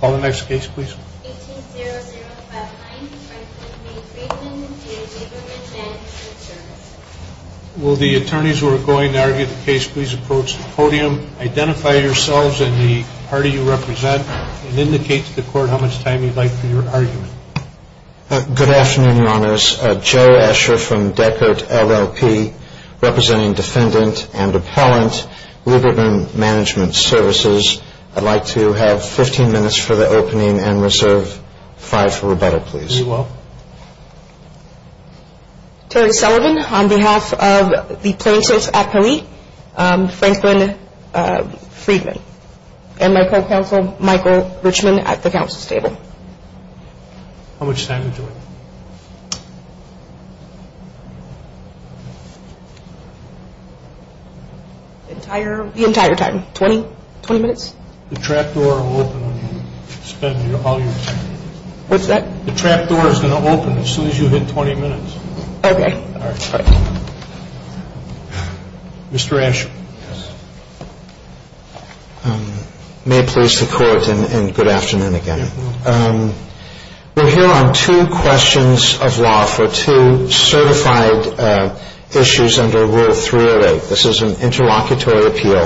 Call the next case please. 18-00-59 Franklin v. Lieberman Management Services Will the attorneys who are going to argue the case please approach the podium. Identify yourselves and the party you represent and indicate to the court how much time you'd like for your argument. Good afternoon, Your Honors. Joe Asher from Deckert, LLP, representing defendant and appellant Lieberman Management Services. I'd like to have 15 minutes for the opening and reserve five for rebuttal, please. You're welcome. Terry Sullivan on behalf of the plaintiffs' appellate, Franklin Friedman, and my co-counsel, Michael Richman, at the counsel's table. How much time to do it? The entire time, 20 minutes? The trap door will open when you spend all your time. What's that? The trap door is going to open as soon as you hit 20 minutes. Okay. Mr. Asher. May it please the court and good afternoon again. We're here on two questions of law for two certified issues under Rule 308. This is an interlocutory appeal,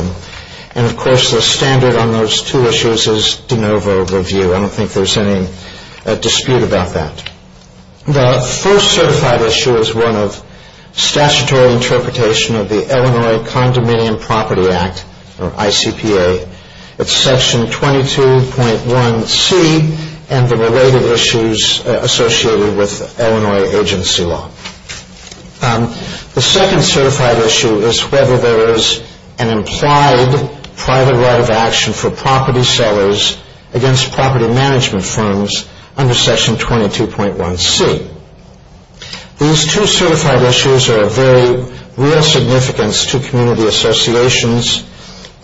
and, of course, the standard on those two issues is de novo review. I don't think there's any dispute about that. The first certified issue is one of statutory interpretation of the Illinois Condominium Property Act, or ICPA. It's Section 22.1c and the related issues associated with Illinois agency law. The second certified issue is whether there is an implied private right of action for property sellers against property management firms under Section 22.1c. These two certified issues are of very real significance to community associations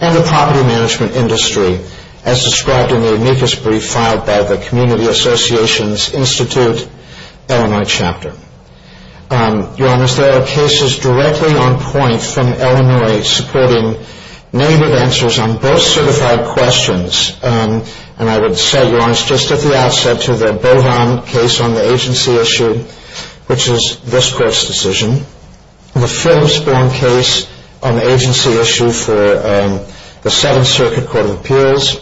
and the property management industry as described in the amicus brief filed by the Community Associations Institute Illinois chapter. Your Honor, there are cases directly on point from Illinois supporting native answers on both certified questions, and I would say, Your Honor, it's just at the outset to the Bohan case on the agency issue, which is this court's decision. The Philips-Bohm case on the agency issue for the Seventh Circuit Court of Appeals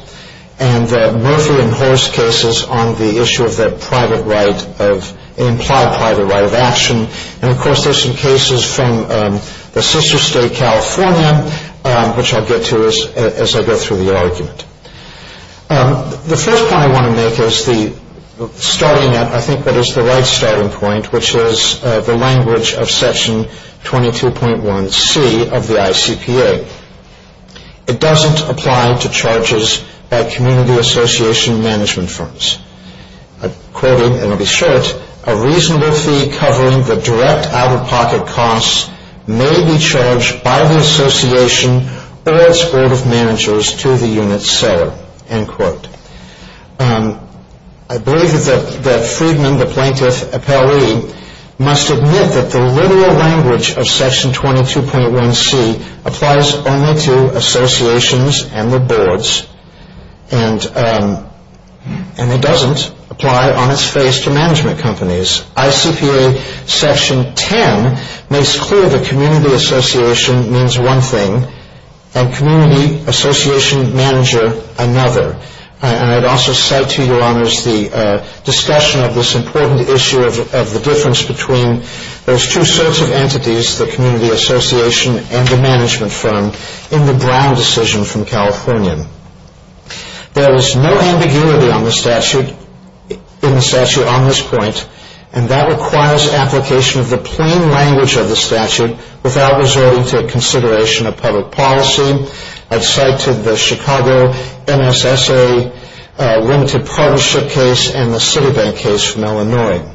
and the Murphy and Horst cases on the issue of the implied private right of action. And, of course, there are some cases from the sister state, California, which I'll get to as I go through the argument. The first point I want to make is starting at, I think, what is the right starting point, which is the language of Section 22.1c of the ICPA. It doesn't apply to charges by community association management firms. Quoting, and I'll be short, a reasonable fee covering the direct out-of-pocket costs may be charged by the association or its board of managers to the unit's seller. I believe that Friedman, the plaintiff appellee, must admit that the literal language of Section 22.1c applies only to associations and the boards, and it doesn't apply on its face to management companies. ICPA Section 10 makes clear that community association means one thing and community association manager another. And I'd also cite to Your Honors the discussion of this important issue of the difference between those two sorts of entities, the community association and the management firm, in the Brown decision from Californian. There is no ambiguity in the statute on this point, and that requires application of the plain language of the statute without resorting to consideration of public policy. I've cited the Chicago NSSA limited partnership case and the Citibank case from Illinois.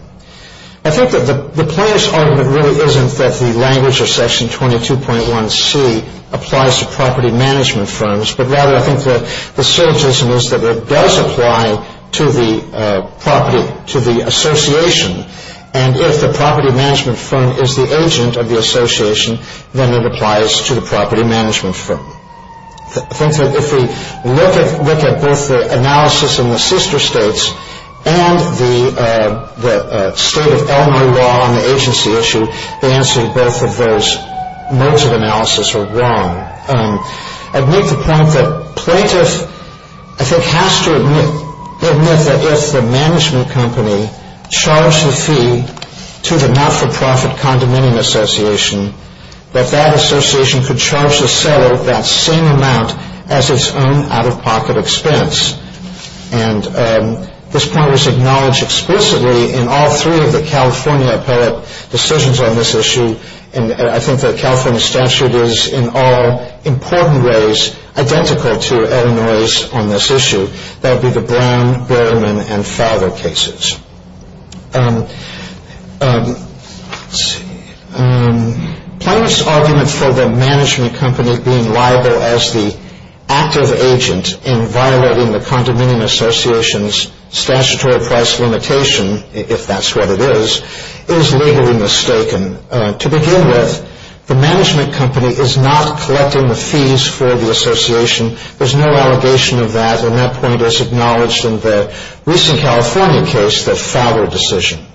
I think that the plaintiff's argument really isn't that the language of Section 22.1c applies to property management firms, but rather I think that the certainty is that it does apply to the property, to the association, and if the property management firm is the agent of the association, then it applies to the property management firm. I think that if we look at both the analysis in the sister states and the state of Illinois law on the agency issue, the answer to both of those modes of analysis are wrong. I make the point that plaintiff, I think, has to admit that if the management company charged the fee to the not-for-profit condominium association, that that association could charge the seller that same amount as its own out-of-pocket expense, and this point was acknowledged explicitly in all three of the California appellate decisions on this issue, and I think the California statute is in all important ways identical to Illinois' on this issue. That would be the Brown, Berman, and Fargo cases. Plaintiff's argument for the management company being liable as the active agent in violating the condominium association's statutory price limitation, if that's what it is, is legally mistaken. To begin with, the management company is not collecting the fees for the association. There's no allegation of that, and that point is acknowledged in the recent California case, the Fowler decision.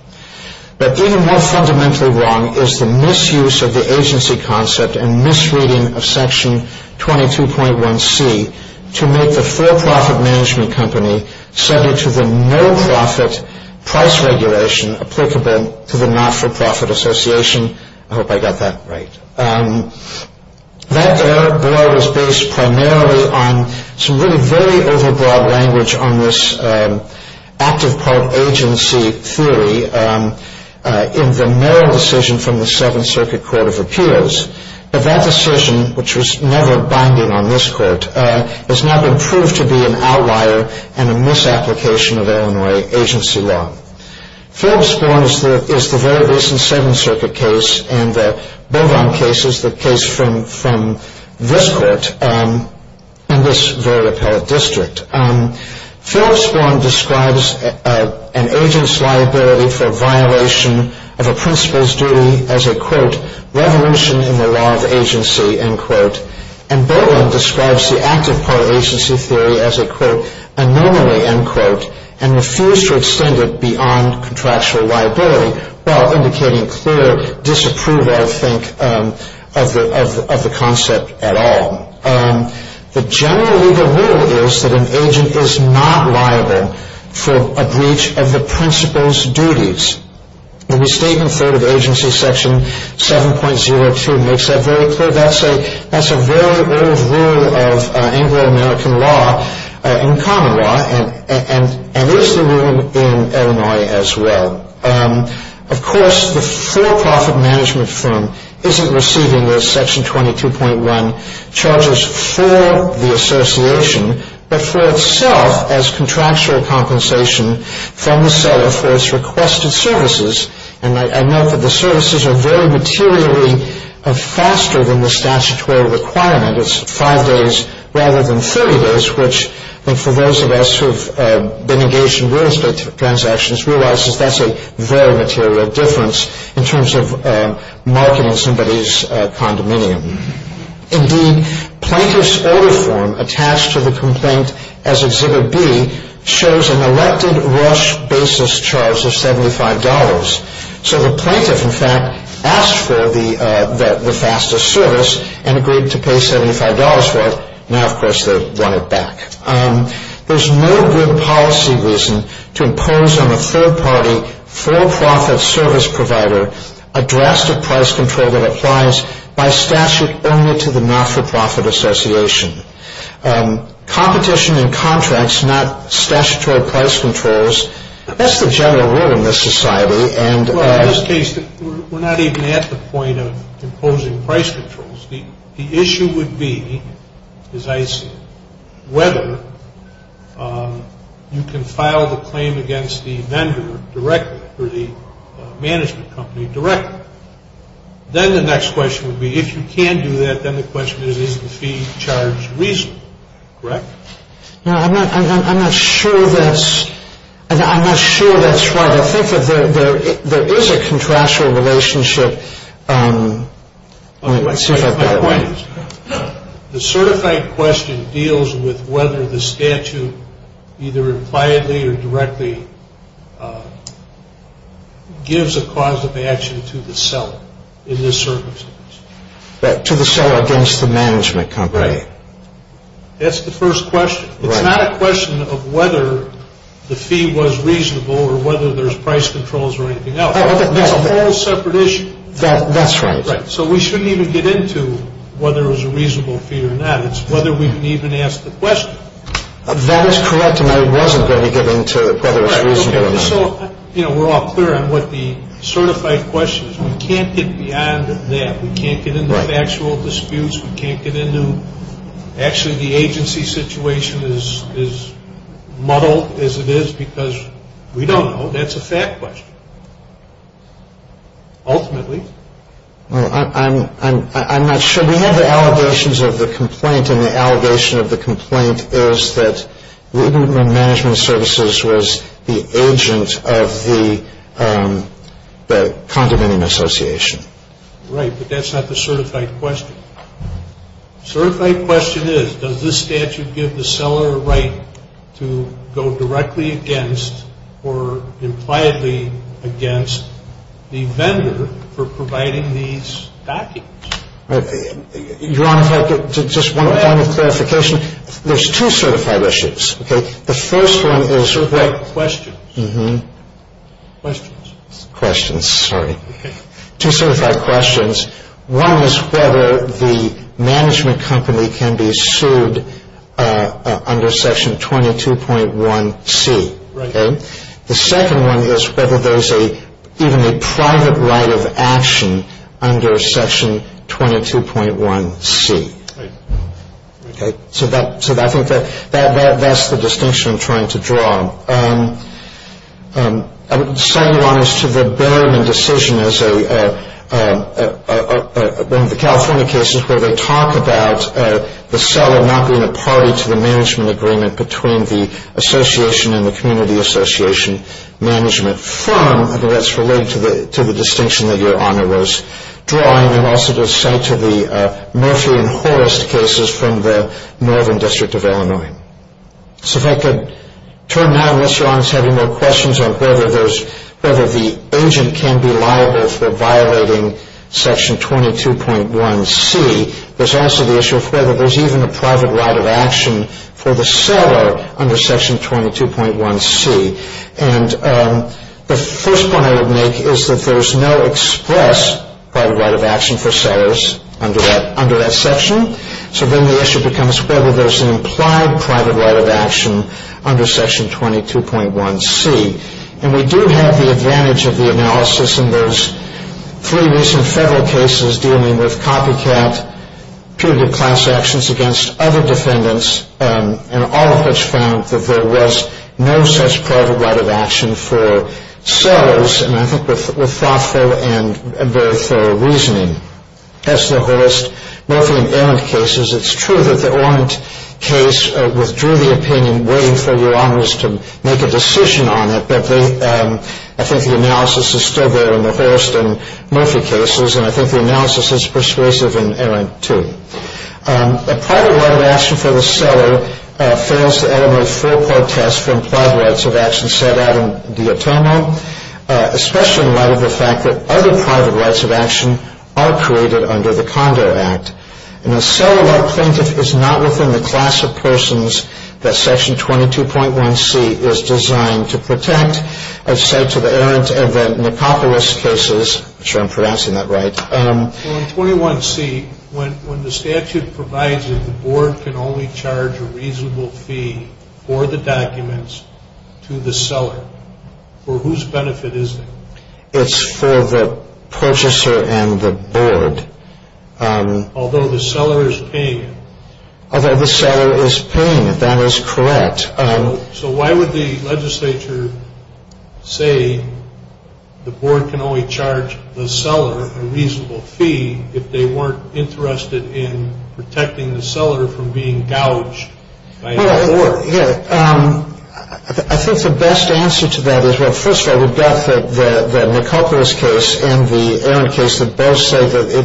But even more fundamentally wrong is the misuse of the agency concept and misreading of section 22.1C to make the for-profit management company subject to the no-profit price regulation applicable to the not-for-profit association. I hope I got that right. That error was based primarily on some really very over-broad language on this active part agency theory in the Merrill decision from the Seventh Circuit Court of Appeals, but that decision, which was never binding on this court, has now been proved to be an outlier and a misapplication of Illinois agency law. Phillips-Born is the very recent Seventh Circuit case, and the Beaudon case is the case from this court in this very appellate district. Phillips-Born describes an agent's liability for violation of a principal's duty as a, quote, revolution in the law of agency, end quote. And Beaudon describes the active part agency theory as a, quote, anomaly, end quote, and refused to extend it beyond contractual liability, while indicating clear disapproval, I think, of the concept at all. The general legal rule is that an agent is not liable for a breach of the principal's duties. The restatement third of agency section 7.02 makes that very clear. That's a very old rule of Anglo-American law, in common law, and is the rule in Illinois as well. Of course, the for-profit management firm isn't receiving those section 22.1 charges for the association, but for itself as contractual compensation from the seller for its requested services. And I note that the services are very materially faster than the statutory requirement. It's five days rather than 30 days, which I think for those of us who have been engaged in real estate transactions, realizes that's a very material difference in terms of marketing somebody's condominium. Indeed, plaintiff's order form attached to the complaint as Exhibit B shows an elected rush basis charge of $75. So the plaintiff, in fact, asked for the fastest service and agreed to pay $75 for it. Now, of course, they want it back. There's no good policy reason to impose on a third-party for-profit service provider a drastic price control that applies by statute only to the not-for-profit association. Competition in contracts, not statutory price controls, that's the general rule in this society. Well, in this case, we're not even at the point of imposing price controls. The issue would be, as I see it, whether you can file the claim against the vendor directly or the management company directly. Then the next question would be, if you can do that, then the question is, is the fee charge reasonable, correct? I'm not sure that's right. I think that there is a contractual relationship. The certified question deals with whether the statute either impliedly or directly gives a cause of action to the seller in this circumstance. To the seller against the management company. Right. That's the first question. It's not a question of whether the fee was reasonable or whether there's price controls or anything else. It's a whole separate issue. That's right. So we shouldn't even get into whether it was a reasonable fee or not. It's whether we can even ask the question. That is correct, and I wasn't going to get into whether it's reasonable or not. We're all clear on what the certified question is. We can't get beyond that. We can't get into factual disputes. We can't get into actually the agency situation is muddled as it is because we don't know. That's a fact question. Ultimately. I'm not sure. We have the allegations of the complaint, and the allegation of the complaint is that Reutemann Management Services was the agent of the condominium association. Right, but that's not the certified question. Certified question is, does this statute give the seller a right to go directly against or impliedly against the vendor for providing these documents? Your Honor, if I could just one final clarification. Go ahead. There's two certified issues. Okay. The first one is. Certified questions. Questions. Questions, sorry. Two certified questions. One is whether the management company can be sued under section 22.1C. Right. The second one is whether there's even a private right of action under section 22.1C. Right. So I think that's the distinction I'm trying to draw. I would cite, Your Honor, as to the Berman decision as one of the California cases where they talk about the seller not being a party to the management agreement between the association and the community association management firm. I think that's related to the distinction that Your Honor was drawing. And also to cite to the Murphy and Horst cases from the Northern District of Illinois. So if I could turn now, unless Your Honor is having more questions on whether the agent can be liable for violating section 22.1C. There's also the issue of whether there's even a private right of action for the seller under section 22.1C. And the first point I would make is that there's no express private right of action for sellers under that section. So then the issue becomes whether there's an implied private right of action under section 22.1C. And we do have the advantage of the analysis in those three recent federal cases dealing with copycat, peer-to-peer class actions against other defendants, and all of which found that there was no such private right of action for sellers. And I think with thoughtful and very thorough reasoning. That's the Horst, Murphy, and Arendt cases. It's true that the Arendt case withdrew the opinion waiting for Your Honors to make a decision on it. But I think the analysis is still there in the Horst and Murphy cases. And I think the analysis is persuasive in Arendt too. A private right of action for the seller fails to eliminate full protests for implied rights of action set out in the atonement. Especially in light of the fact that other private rights of action are created under the Condo Act. And the seller or plaintiff is not within the class of persons that section 22.1C is designed to protect. As said to the Arendt and the Nicopolis cases. I'm sure I'm pronouncing that right. On 21C, when the statute provides that the board can only charge a reasonable fee for the documents to the seller, for whose benefit is it? It's for the purchaser and the board. Although the seller is paying it. Although the seller is paying it, that is correct. So why would the legislature say the board can only charge the seller a reasonable fee if they weren't interested in protecting the seller from being gouged by the board? I think the best answer to that is, well, first of all, we've got the Nicopolis case and the Arendt case that both say that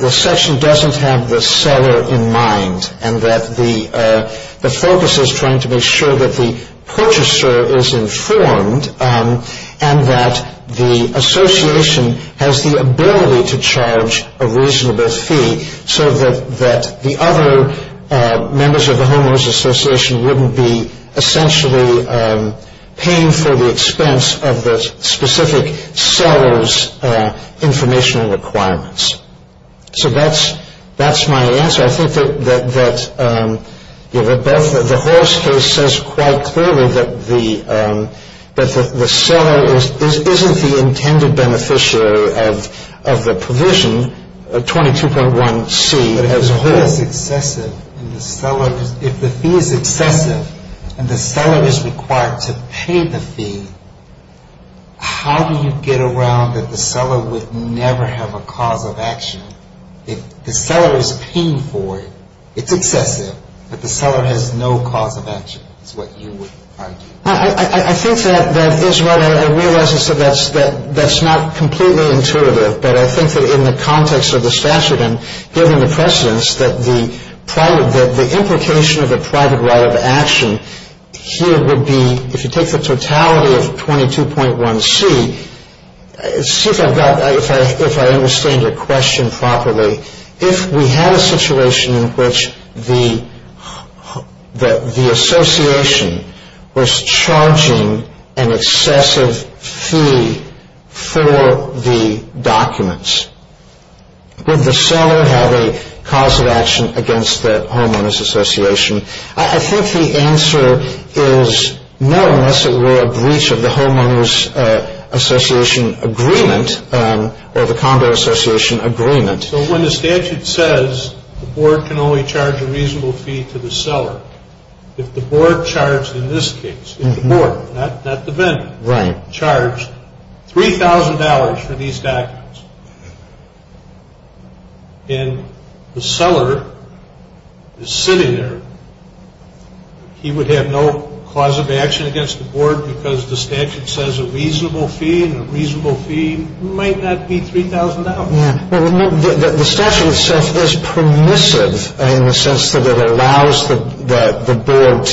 the section doesn't have the seller in mind. And that the focus is trying to make sure that the purchaser is informed and that the association has the ability to charge a reasonable fee. So that the other members of the Homeless Association wouldn't be essentially paying for the expense of the specific seller's informational requirements. So that's my answer. But I think that the Horace case says quite clearly that the seller isn't the intended beneficiary of the provision 22.1C as a whole. But if the fee is excessive and the seller is required to pay the fee, how do you get around that the seller would never have a cause of action? If the seller is paying for it, it's excessive, but the seller has no cause of action is what you would argue. I think that is what I realize is that that's not completely intuitive. But I think that in the context of the statute and given the precedence, that the implication of a private right of action here would be, if you take the totality of 22.1C, see if I understand your question properly. If we had a situation in which the association was charging an excessive fee for the documents, would the seller have a cause of action against the Homeowners Association? I think the answer is no, unless it were a breach of the Homeowners Association agreement or the Condor Association agreement. So when the statute says the board can only charge a reasonable fee to the seller, if the board charged in this case, if the board, not the vendor, charged $3,000 for these documents, and the seller is sitting there, he would have no cause of action against the board because the statute says a reasonable fee and a reasonable fee might not be $3,000. The statute itself is permissive in the sense that it allows the board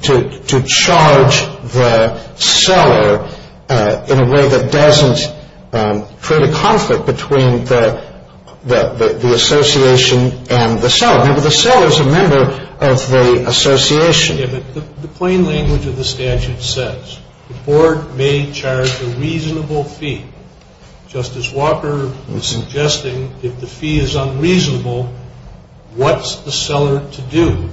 to charge the seller in a way that doesn't create a conflict between the association and the seller. Remember, the seller is a member of the association. The plain language of the statute says the board may charge a reasonable fee. Justice Walker is suggesting if the fee is unreasonable, what's the seller to do?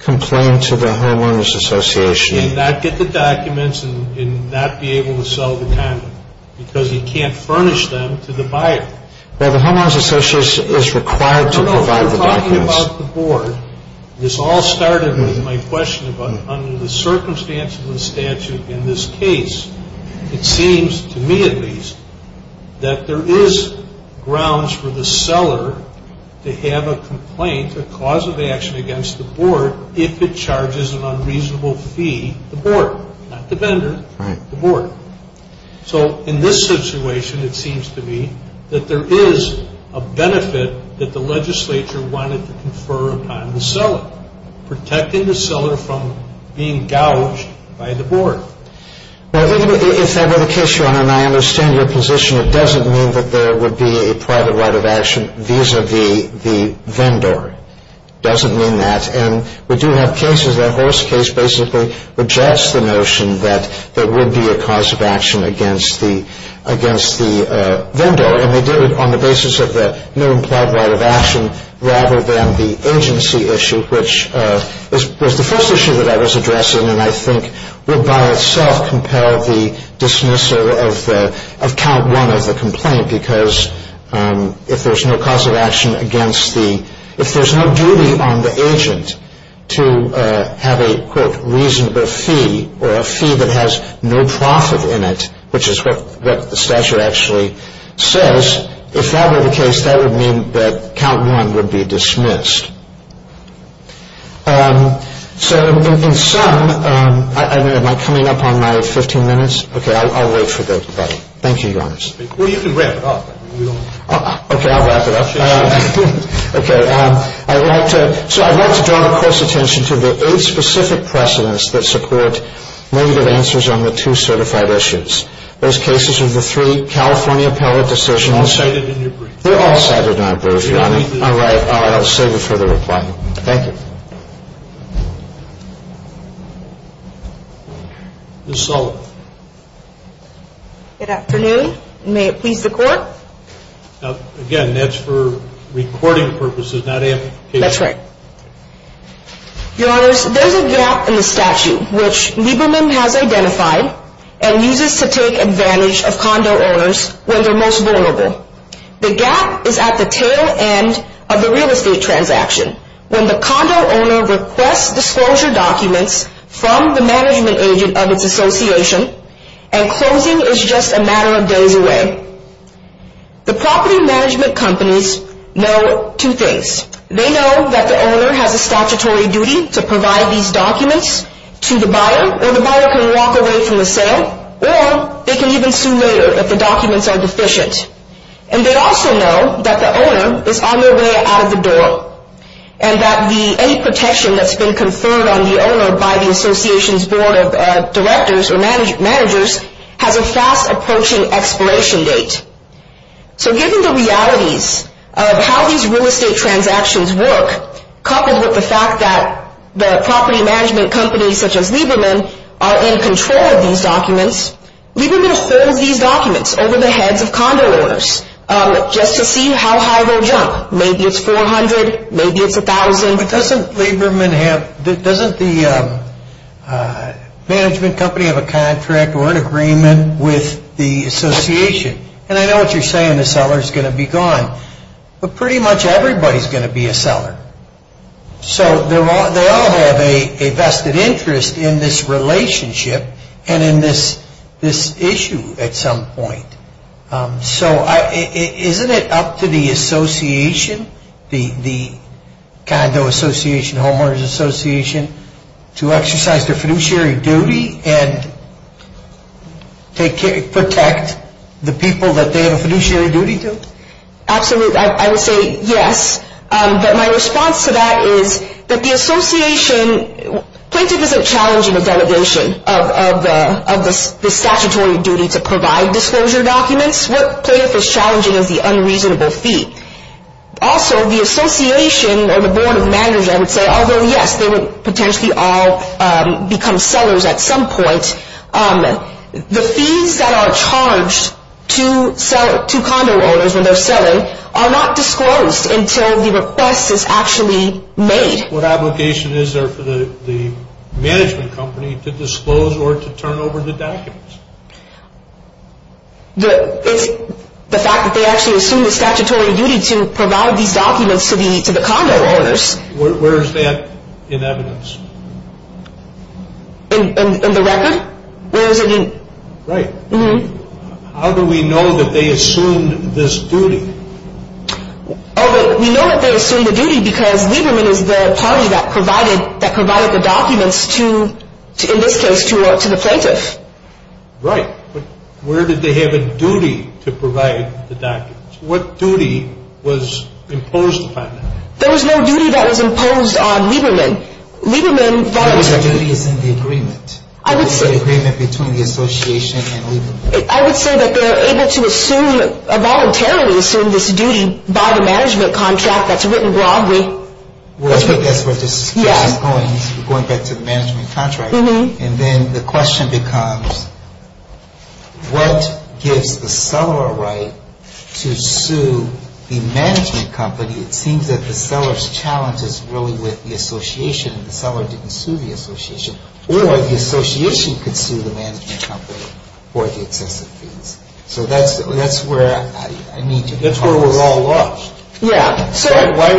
Complain to the Homeowners Association. And not get the documents and not be able to sell the condom because he can't furnish them to the buyer. Well, the Homeowners Association is required to provide the documents. This all started with my question about under the circumstances of the statute in this case, it seems to me at least that there is grounds for the seller to have a complaint, a cause of action against the board if it charges an unreasonable fee to the board, not the vendor, the board. So in this situation, it seems to me that there is a benefit that the legislature wanted to confer upon the seller, protecting the seller from being gouged by the board. Well, if that were the case, Your Honor, and I understand your position, it doesn't mean that there would be a private right of action vis-a-vis the vendor. It doesn't mean that. And we do have cases, that Horace case basically rejects the notion that there would be a cause of action against the vendor. And they did it on the basis of the new implied right of action rather than the agency issue, which was the first issue that I was addressing and I think would by itself compel the dismissal of count one of the complaint. Because if there's no cause of action against the, if there's no duty on the agent to have a reasonable fee or a fee that has no profit in it, which is what the statute actually says, if that were the case, that would mean that count one would be dismissed. So in sum, am I coming up on my 15 minutes? Okay. Thank you, Your Honor. Well, you can wrap it up. Okay. I'll wrap it up. Okay. I'd like to draw the Court's attention to the eight specific precedents that support negative answers on the two certified issues. Those cases are the three California appellate decisions. They're all cited in your brief. They're all cited in my brief, Your Honor. All right. I'll save it for the reply. Thank you. Ms. Sullivan. Good afternoon. May it please the Court? Again, that's for recording purposes, not amplification. That's right. Your Honors, there's a gap in the statute which Lieberman has identified and uses to take advantage of condo owners when they're most vulnerable. The gap is at the tail end of the real estate transaction. When the condo owner requests disclosure documents from the management agent of its association and closing is just a matter of days away, the property management companies know two things. They know that the owner has a statutory duty to provide these documents to the buyer or the buyer can walk away from the sale or they can even sue later if the documents are deficient. And they also know that the owner is on their way out of the door. And that any protection that's been conferred on the owner by the association's board of directors or managers has a fast approaching expiration date. So given the realities of how these real estate transactions work, coupled with the fact that the property management companies such as Lieberman are in control of these documents, Lieberman holds these documents over the heads of condo owners just to see how high they'll jump. Maybe it's 400, maybe it's 1,000. But doesn't Lieberman have, doesn't the management company have a contract or an agreement with the association? And I know what you're saying, the seller's going to be gone. But pretty much everybody's going to be a seller. So they all have a vested interest in this relationship and in this issue at some point. So isn't it up to the association, the condo association, homeowners association, to exercise their fiduciary duty and protect the people that they have a fiduciary duty to? Absolutely, I would say yes. But my response to that is that the association, plaintiff isn't challenging the delegation of the statutory duty to provide disclosure documents. What plaintiff is challenging is the unreasonable fee. Also, the association or the board of managers, I would say, although yes, they would potentially all become sellers at some point, the fees that are charged to condo owners when they're selling are not disclosed until the request is actually made. What obligation is there for the management company to disclose or to turn over the documents? The fact that they actually assume the statutory duty to provide these documents to the condo owners. Where is that in evidence? In the record? Right. How do we know that they assumed this duty? We know that they assumed the duty because Lieberman is the party that provided the documents to, in this case, to the plaintiff. Right. But where did they have a duty to provide the documents? What duty was imposed upon them? There was no duty that was imposed on Lieberman. Lieberman... The duty is in the agreement. I would say... The agreement between the association and Lieberman. I would say that they're able to assume, voluntarily assume this duty by the management contract that's written broadly. That's where this is going, going back to the management contract. And then the question becomes, what gives the seller a right to sue the management company? It seems that the seller's challenge is really with the association. The seller didn't sue the association. Or the association could sue the management company for the excessive fees. So that's where I need to pause. That's where we're all lost. Yeah. Why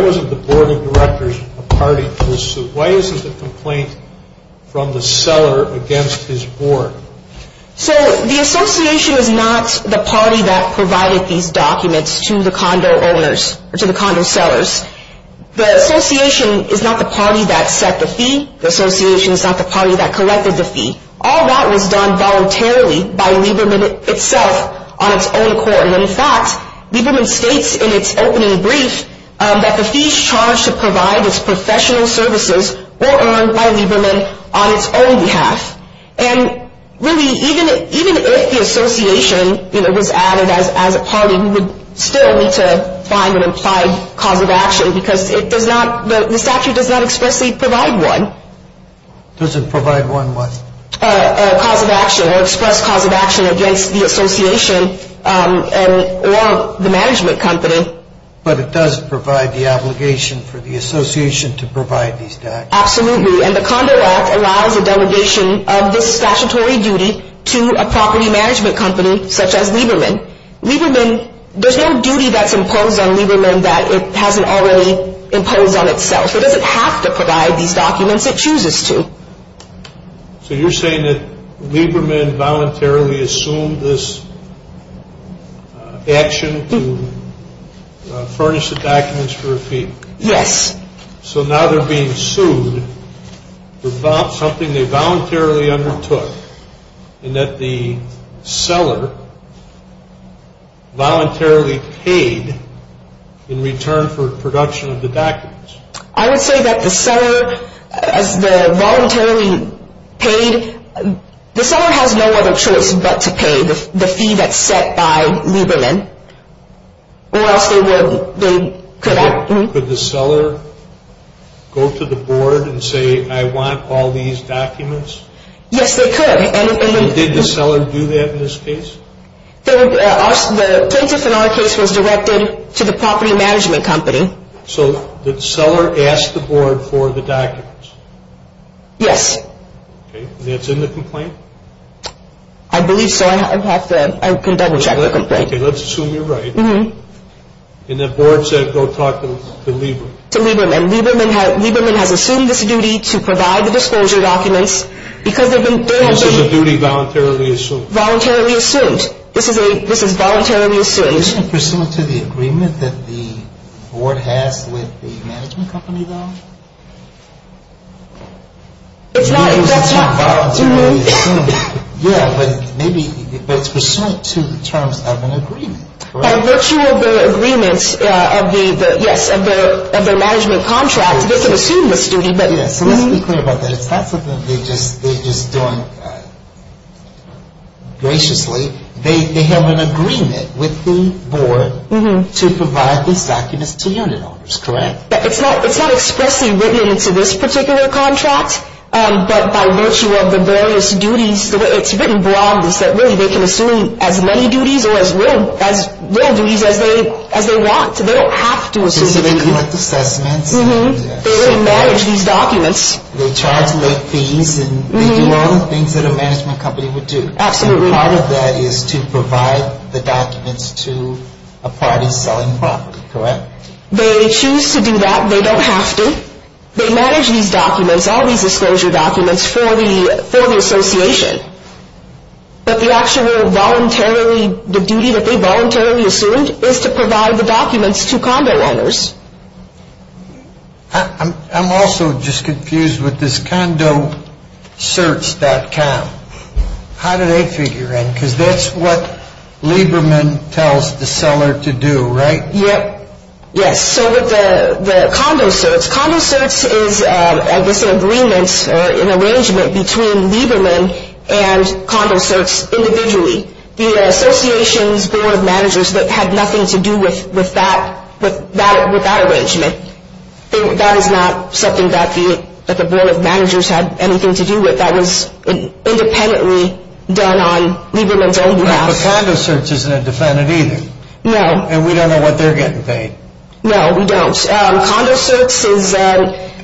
wasn't the board of directors a party to the suit? Why isn't the complaint from the seller against his board? So the association is not the party that provided these documents to the condo owners, or to the condo sellers. The association is not the party that set the fee. The association is not the party that collected the fee. All that was done voluntarily by Lieberman itself on its own court. And in fact, Lieberman states in its opening brief that the fees charged to provide its professional services were earned by Lieberman on its own behalf. And really, even if the association was added as a party, we would still need to find an implied cause of action because the statute does not expressly provide one. Does it provide one what? A cause of action or express cause of action against the association or the management company. But it does provide the obligation for the association to provide these documents. Absolutely. And the Condo Act allows a delegation of this statutory duty to a property management company such as Lieberman. Lieberman, there's no duty that's imposed on Lieberman that it hasn't already imposed on itself. It doesn't have to provide these documents. It chooses to. So you're saying that Lieberman voluntarily assumed this action to furnish the documents for a fee? Yes. So now they're being sued for something they voluntarily undertook and that the seller voluntarily paid in return for production of the documents. I would say that the seller, as the voluntarily paid, the seller has no other choice but to pay the fee that's set by Lieberman. Could the seller go to the board and say, I want all these documents? Yes, they could. Did the seller do that in this case? The plaintiff in our case was directed to the property management company. So the seller asked the board for the documents? Yes. And that's in the complaint? I believe so. I can double check the complaint. Okay, let's assume you're right. And the board said go talk to Lieberman. To Lieberman. Lieberman has assumed this duty to provide the disclosure documents. This is a duty voluntarily assumed? Voluntarily assumed. This is voluntarily assumed. Isn't this pursuant to the agreement that the board has with the management company, though? It's not voluntarily assumed. Yeah, but it's pursuant to the terms of an agreement, correct? By virtue of the agreements of their management contract, they can assume this duty. Yes, so let's be clear about that. It's not something they're just doing graciously. They have an agreement with the board to provide these documents to unit owners, correct? It's not expressly written into this particular contract, but by virtue of the various duties, it's written broadly so that really they can assume as many duties or as little duties as they want. They don't have to assume. So they collect assessments. They manage these documents. They charge late fees and they do all the things that a management company would do. Absolutely. And part of that is to provide the documents to a party selling property, correct? They choose to do that. They don't have to. They manage these documents, all these disclosure documents, for the association. But the actual voluntary duty that they voluntarily assumed is to provide the documents to condo owners. I'm also just confused with this condocerts.com. How do they figure in? Because that's what Lieberman tells the seller to do, right? Yes. So with the condocerts, condocerts is, I guess, an agreement or an arrangement between Lieberman and condocerts individually. The association's board of managers had nothing to do with that arrangement. That is not something that the board of managers had anything to do with. That was independently done on Lieberman's own behalf. But condocerts isn't independent either. No. And we don't know what they're getting paid. No, we don't. Condocerts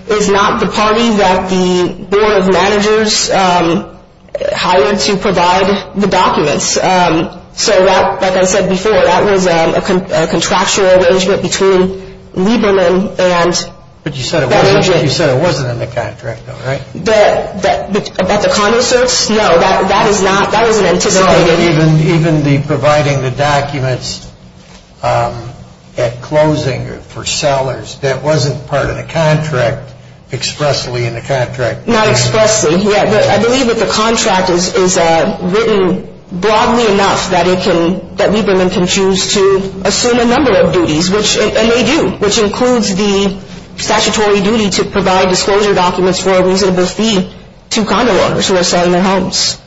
is not the party that the board of managers hired to provide the documents. So that, like I said before, that was a contractual arrangement between Lieberman and that agent. But you said it wasn't in the contract, though, right? At the condocerts? No, that is not, that wasn't anticipated. Even the providing the documents at closing for sellers, that wasn't part of the contract expressly in the contract? Not expressly, yeah. I believe that the contract is written broadly enough that it can, that Lieberman can choose to assume a number of duties, and they do, which includes the statutory duty to provide disclosure documents for a reasonable fee to condo owners who are selling their homes.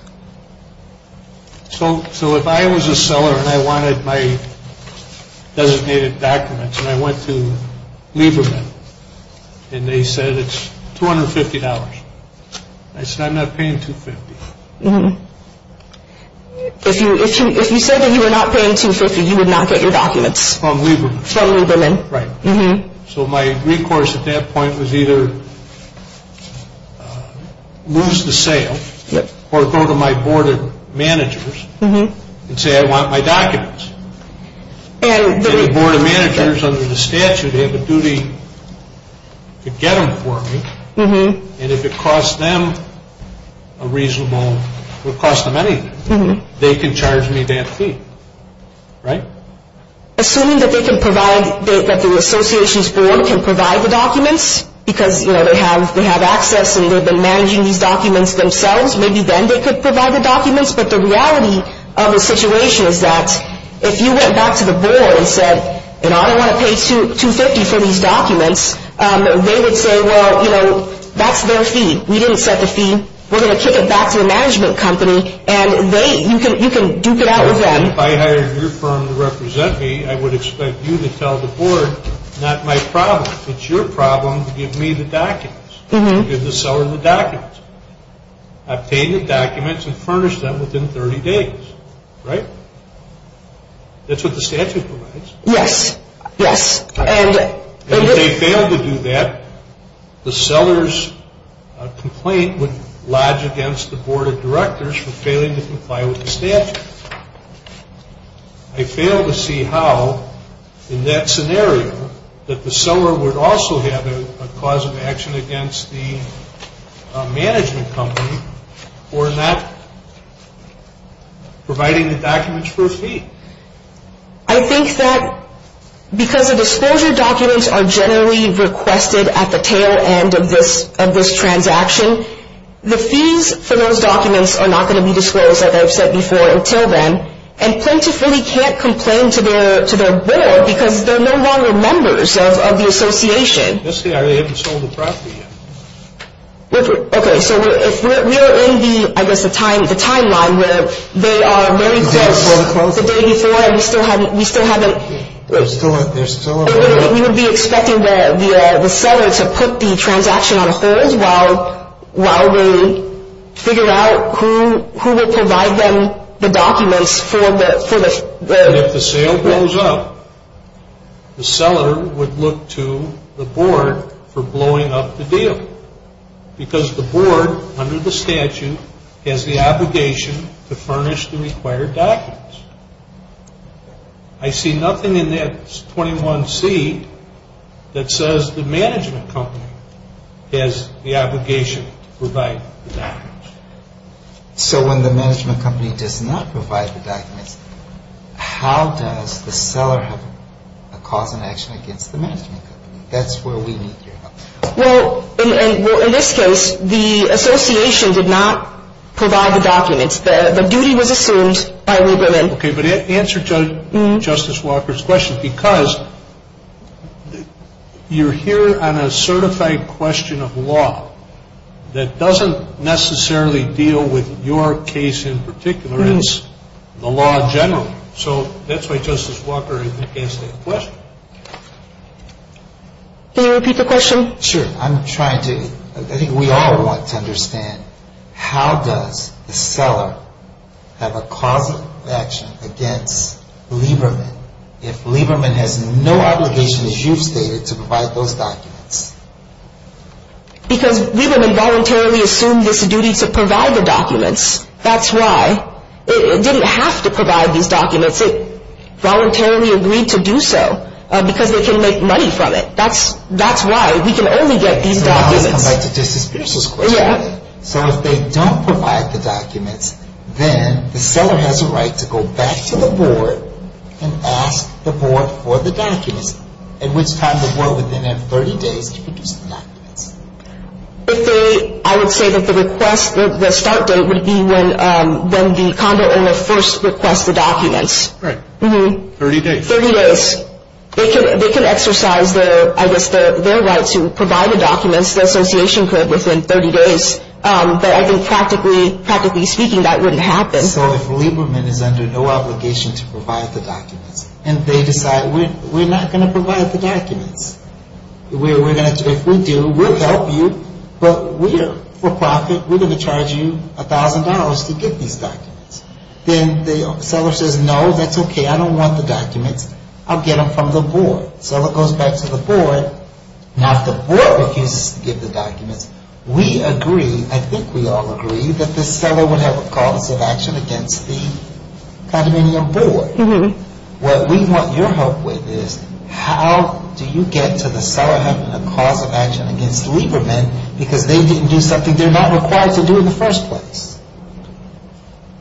So if I was a seller and I wanted my designated documents and I went to Lieberman and they said it's $250, I said I'm not paying $250. If you said that you were not paying $250, you would not get your documents? From Lieberman. From Lieberman. Right. So my recourse at that point was either lose the sale or go to my board of managers and say I want my documents. And the board of managers under the statute have a duty to get them for me. And if it costs them a reasonable, would cost them anything, they can charge me that fee, right? Assuming that they can provide, that the association's board can provide the documents because, you know, they have access and they've been managing these documents themselves, maybe then they could provide the documents. But the reality of the situation is that if you went back to the board and said, you know, I don't want to pay $250 for these documents, they would say, well, you know, that's their fee. We didn't set the fee. We're going to kick it back to the management company, and you can duke it out with them. If I hired your firm to represent me, I would expect you to tell the board not my problem. It's your problem to give me the documents, to give the seller the documents. Obtain the documents and furnish them within 30 days, right? That's what the statute provides. Yes. Yes. And if they fail to do that, the seller's complaint would lodge against the board of directors for failing to comply with the statute. I fail to see how, in that scenario, that the seller would also have a cause of action against the management company for not providing the documents for a fee. I think that because the disclosure documents are generally requested at the tail end of this transaction, the fees for those documents are not going to be disclosed, as I've said before, until then. And plaintiffs really can't complain to their board because they're no longer members of the association. Let's say they haven't sold the property yet. Okay. So if we're in the, I guess, the timeline where they are very close the day before and we still haven't. They're still on the road. We would be expecting the seller to put the transaction on hold while we figure out who will provide them the documents for the. If the sale goes up, the seller would look to the board for blowing up the deal. Because the board, under the statute, has the obligation to furnish the required documents. I see nothing in that 21C that says the management company has the obligation to provide the documents. So when the management company does not provide the documents, how does the seller have a cause of action against the management company? That's where we need your help. Well, in this case, the association did not provide the documents. The duty was assumed by Lieberman. Okay. But answer Justice Walker's question. Because you're here on a certified question of law that doesn't necessarily deal with your case in particular. It's the law generally. So that's why Justice Walker asked that question. Can you repeat the question? Sure. I think we all want to understand how does the seller have a cause of action against Lieberman if Lieberman has no obligation, as you've stated, to provide those documents? Because Lieberman voluntarily assumed this duty to provide the documents. That's why it didn't have to provide these documents. It voluntarily agreed to do so because they can make money from it. That's why. We can only get these documents. So I want to come back to Justice Pierce's question. Yeah. So if they don't provide the documents, then the seller has a right to go back to the board and ask the board for the documents, at which time the board would then have 30 days to produce the documents. I would say that the request, the start date would be when the condo owner first requests the documents. Right. 30 days. 30 days. They could exercise, I guess, their right to provide the documents. The association could within 30 days. But I think, practically speaking, that wouldn't happen. So if Lieberman is under no obligation to provide the documents, and they decide we're not going to provide the documents, if we do, we'll help you, but for profit, we're going to charge you $1,000 to get these documents. Then the seller says, no, that's okay. I don't want the documents. I'll get them from the board. So it goes back to the board. Now, if the board refuses to give the documents, we agree, I think we all agree, that the seller would have a cause of action against the condominium board. What we want your help with is how do you get to the seller having a cause of action against Lieberman because they didn't do something they're not required to do in the first place?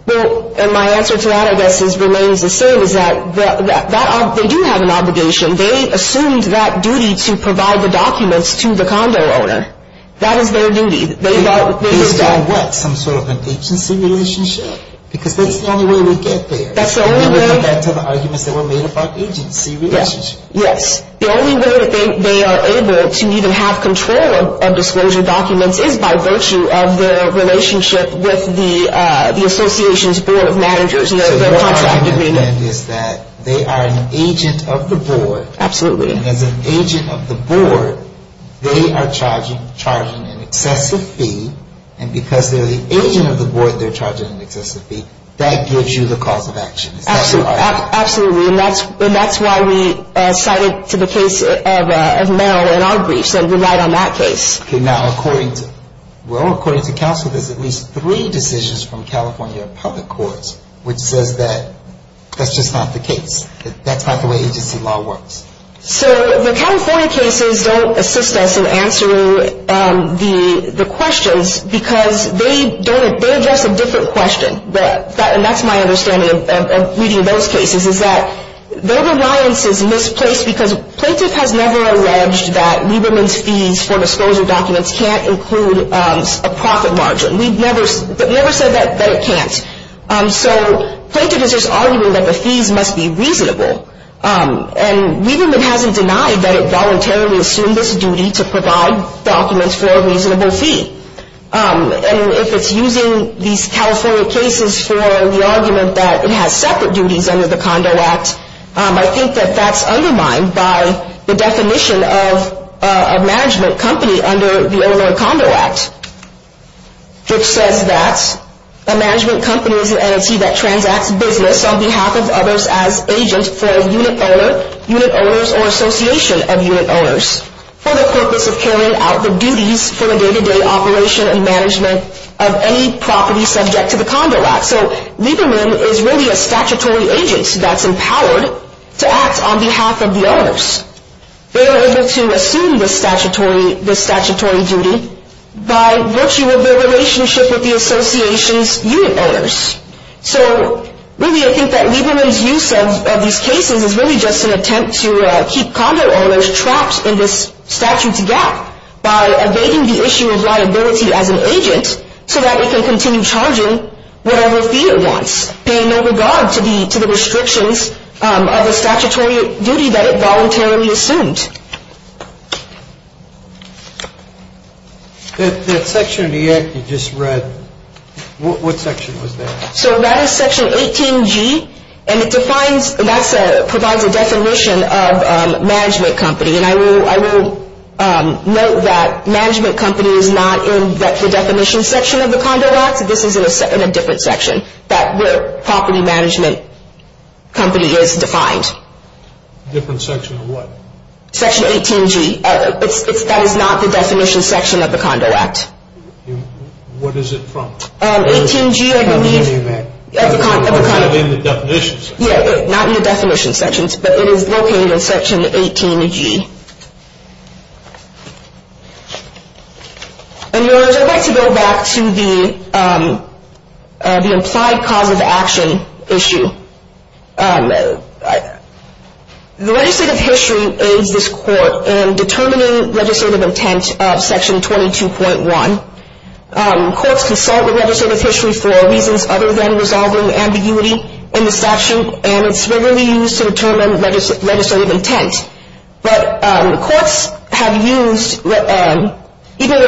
Well, and my answer to that, I guess, remains the same, is that they do have an obligation. They assumed that duty to provide the documents to the condo owner. That is their duty. They felt they were doing what? Some sort of an agency relationship? Because that's the only way we get there. That's the only way. And we'll get back to the arguments that were made about agency relationships. Yes. The only way that they are able to even have control of disclosure documents is by virtue of their relationship with the association's board of managers, their contract agreement. So your argument, then, is that they are an agent of the board. Absolutely. And as an agent of the board, they are charging an excessive fee. And because they're the agent of the board, they're charging an excessive fee. That gives you the cause of action. Absolutely. And that's why we cited to the case of Merrill in our briefs and relied on that case. Okay. Now, according to, well, according to counsel, there's at least three decisions from California public courts which says that that's just not the case, that that's not the way agency law works. So the California cases don't assist us in answering the questions because they address a different question. And that's my understanding of reading those cases, is that their reliance is misplaced because plaintiff has never alleged that Lieberman's fees for disclosure documents can't include a profit margin. We've never said that it can't. So plaintiff is just arguing that the fees must be reasonable. And Lieberman hasn't denied that it voluntarily assumed this duty to provide documents for a reasonable fee. And if it's using these California cases for the argument that it has separate duties under the Condo Act, I think that that's undermined by the definition of a management company under the Illinois Condo Act, which says that a management company is an entity that transacts business on behalf of others as agent for a unit owner, unit owners or association of unit owners for the purpose of carrying out the duties for the day-to-day operation and management of any property subject to the Condo Act. So Lieberman is really a statutory agent that's empowered to act on behalf of the owners. They are able to assume this statutory duty by virtue of their relationship with the association's unit owners. So really, I think that Lieberman's use of these cases is really just an attempt to keep condo owners trapped in this statute's gap by evading the issue of liability as an agent so that it can continue charging whatever fee it wants, paying no regard to the restrictions of the statutory duty that it voluntarily assumed. That section of the Act you just read, what section was that? So that is section 18G, and it defines, that provides a definition of a management company. And I will note that management company is not in the definition section of the Condo Act. This is in a different section where property management company is defined. Different section of what? Section 18G. That is not the definition section of the Condo Act. What is it from? 18G, I believe, of the condo. It's not in the definition section. Yeah, not in the definition section, but it is located in section 18G. And, Your Honors, I'd like to go back to the implied cause of action issue. The legislative history aids this court in determining legislative intent of section 22.1. Courts consult with legislative history for reasons other than resolving ambiguity in the statute, and it's regularly used to determine legislative intent. But courts have used, even though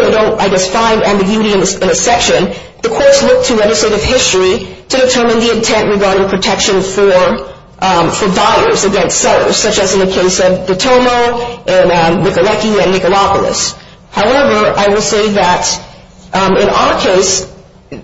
they don't, I guess, find ambiguity in a section, the courts look to legislative history to determine the intent regarding protection for buyers against sellers, such as in the case of Dottomo and Nicoletti and Nicolopolis. However, I will say that in our case,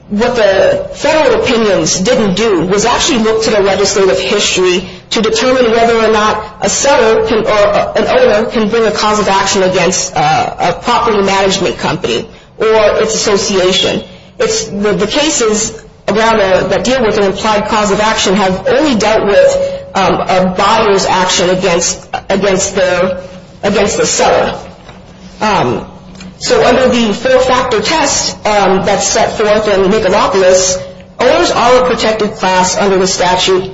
what the federal opinions didn't do was actually look to the legislative history to determine whether or not a seller or an owner can bring a cause of action against a property management company or its association. The cases that deal with an implied cause of action have only dealt with a buyer's action against the seller. So under the four-factor test that's set forth in Nicolopolis, owners are a protected class under the statute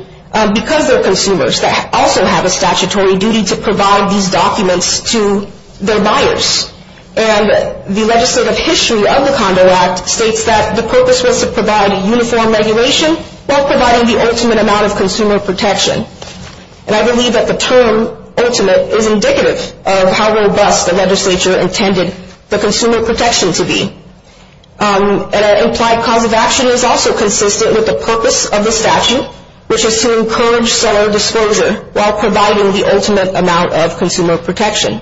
because they're consumers. They also have a statutory duty to provide these documents to their buyers. And the legislative history of the Condo Act states that the purpose was to provide a uniform regulation while providing the ultimate amount of consumer protection. And I believe that the term ultimate is indicative of how robust the legislature intended the consumer protection to be. And an implied cause of action is also consistent with the purpose of the statute, which is to encourage seller disclosure while providing the ultimate amount of consumer protection.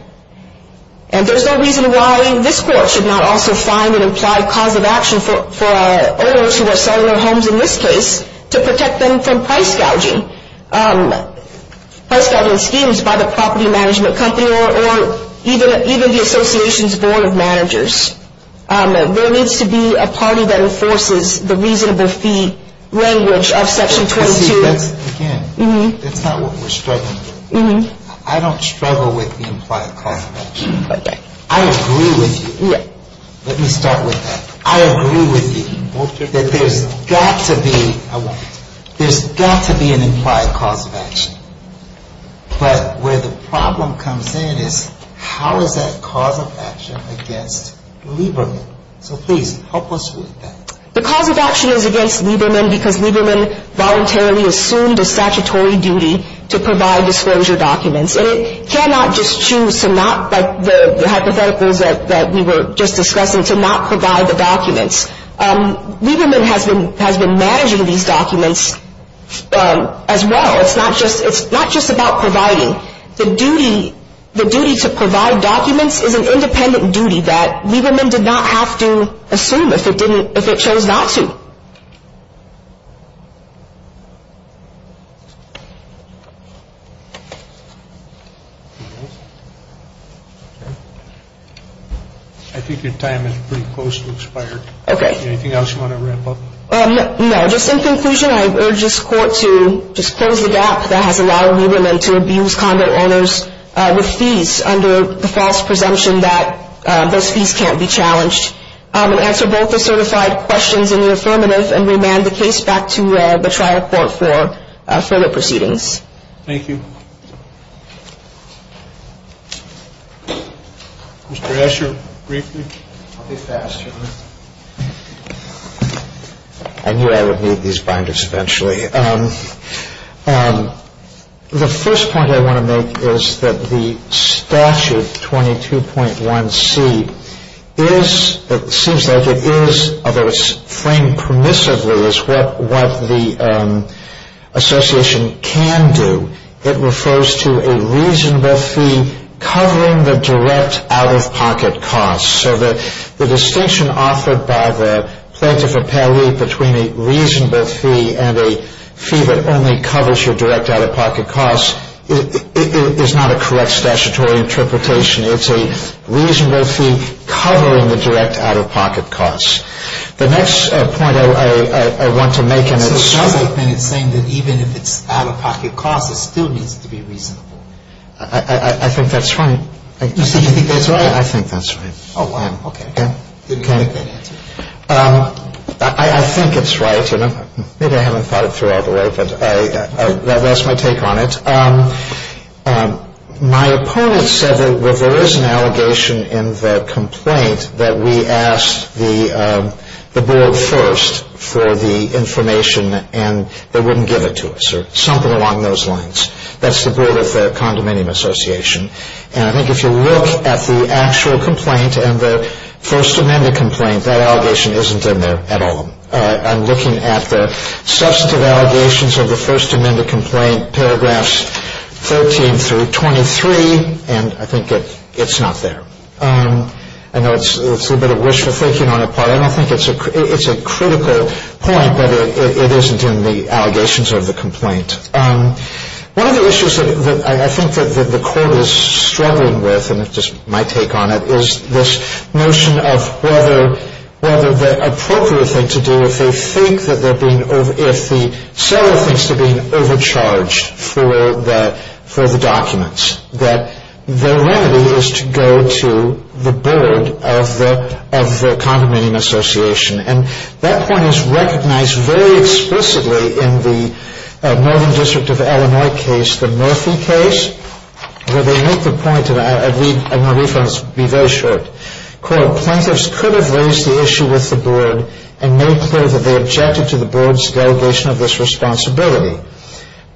And there's no reason why this court should not also find an implied cause of action for owners who are selling their homes in this case to protect them from price gouging, price gouging schemes by the property management company or even the association's board of managers. There needs to be a party that enforces the reasonable fee language of Section 22. Again, that's not what we're struggling with. I don't struggle with the implied cause of action. I agree with you. Let me start with that. I agree with you that there's got to be an implied cause of action. But where the problem comes in is how is that cause of action against Lieberman? So please, help us with that. The cause of action is against Lieberman because Lieberman voluntarily assumed a statutory duty to provide disclosure documents. And it cannot just choose to not, like the hypotheticals that we were just discussing, to not provide the documents. Lieberman has been managing these documents as well. It's not just about providing. The duty to provide documents is an independent duty that Lieberman did not have to assume if it chose not to. I think your time is pretty close to expired. Okay. Anything else you want to wrap up? No. Just in conclusion, I urge this Court to just close the gap that has allowed Lieberman to abuse conduct owners with fees under the false presumption that those fees can't be challenged, and answer both the certified questions in the affirmative, and remand the case back to the trial court for further proceedings. Thank you. Mr. Escher, briefly? I'll be fast. I knew I would need these binders eventually. The first point I want to make is that the statute 22.1c is, it seems like it is, although it's framed permissively as what the association can do, it refers to a reasonable fee covering the direct out-of-pocket costs. So the distinction offered by the plaintiff appellee between a reasonable fee and a fee that only covers your direct out-of-pocket costs is not a correct statutory interpretation. It's a reasonable fee covering the direct out-of-pocket costs. The next point I want to make, and it's... So it sounds like it's saying that even if it's out-of-pocket costs, it still needs to be reasonable. I think that's right. You think that's right? I think that's right. Okay. I think it's right. Maybe I haven't thought it through all the way, but that's my take on it. My opponent said that there is an allegation in the complaint that we asked the board first for the information and they wouldn't give it to us or something along those lines. That's the board of the Condominium Association. And I think if you look at the actual complaint and the First Amendment complaint, that allegation isn't in there at all. I'm looking at the substantive allegations of the First Amendment complaint, paragraphs 13 through 23, and I think it's not there. I know it's a little bit of wishful thinking on our part. I don't think it's a critical point, but it isn't in the allegations of the complaint. One of the issues that I think that the court is struggling with, and it's just my take on it, is this notion of whether the appropriate thing to do if the seller thinks they're being overcharged for the documents, that the remedy is to go to the board of the Condominium Association. And that point is recognized very explicitly in the Northern District of Illinois case, the Murphy case, where they make the point, and I'll read my reference, be very short. Quote, Plaintiffs could have raised the issue with the board and made clear that they objected to the board's delegation of this responsibility.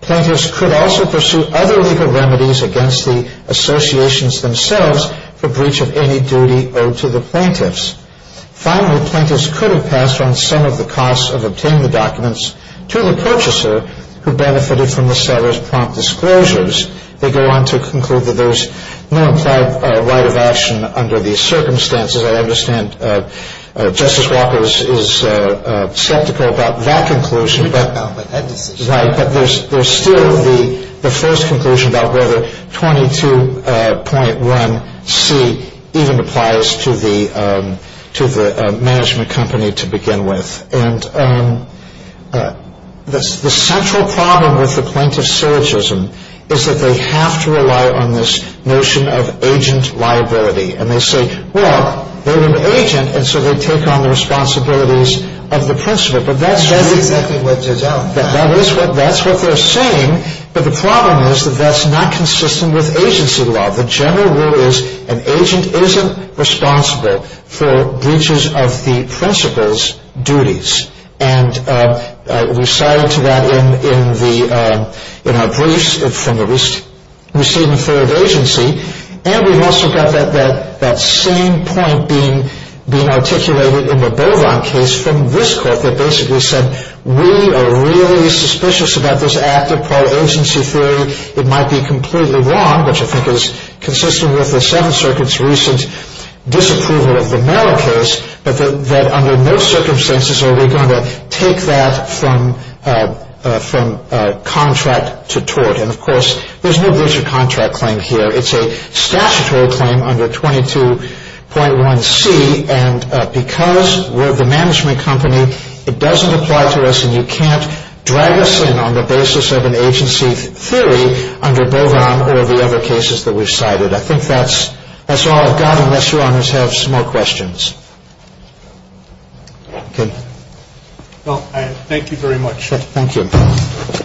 Plaintiffs could also pursue other legal remedies against the associations themselves for breach of any duty owed to the plaintiffs. Finally, plaintiffs could have passed on some of the costs of obtaining the documents to the purchaser who benefited from the seller's prompt disclosures. They go on to conclude that there's no implied right of action under these circumstances. I understand Justice Walker is skeptical about that conclusion. Right, but there's still the first conclusion about whether 22.1C even applies to the management company to begin with. And the central problem with the plaintiff's syllogism is that they have to rely on this notion of agent liability. And they say, well, they're an agent, and so they take on the responsibilities of the principal. But that's what they're saying. But the problem is that that's not consistent with agency law. The general rule is an agent isn't responsible for breaches of the principal's duties. And we cited to that in our briefs from the receiving third agency. And we've also got that same point being articulated in the Bovan case from this court that basically said, we are really suspicious about this act of pro-agency theory. It might be completely wrong, which I think is consistent with the Seventh Circuit's recent disapproval of the Merrill case, but that under no circumstances are we going to take that from contract to tort. And of course, there's no breach of contract claim here. It's a statutory claim under 22.1C. And because we're the management company, it doesn't apply to us, and you can't drag us in on the basis of an agency theory under Bovan or the other cases that we've cited. I think that's all I've got, unless Your Honors have some more questions. Well, thank you very much. Thank you. Thank you.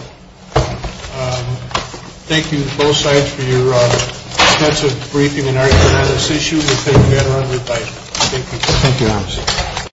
Thank you to both sides for your extensive briefing on this issue. Thank you.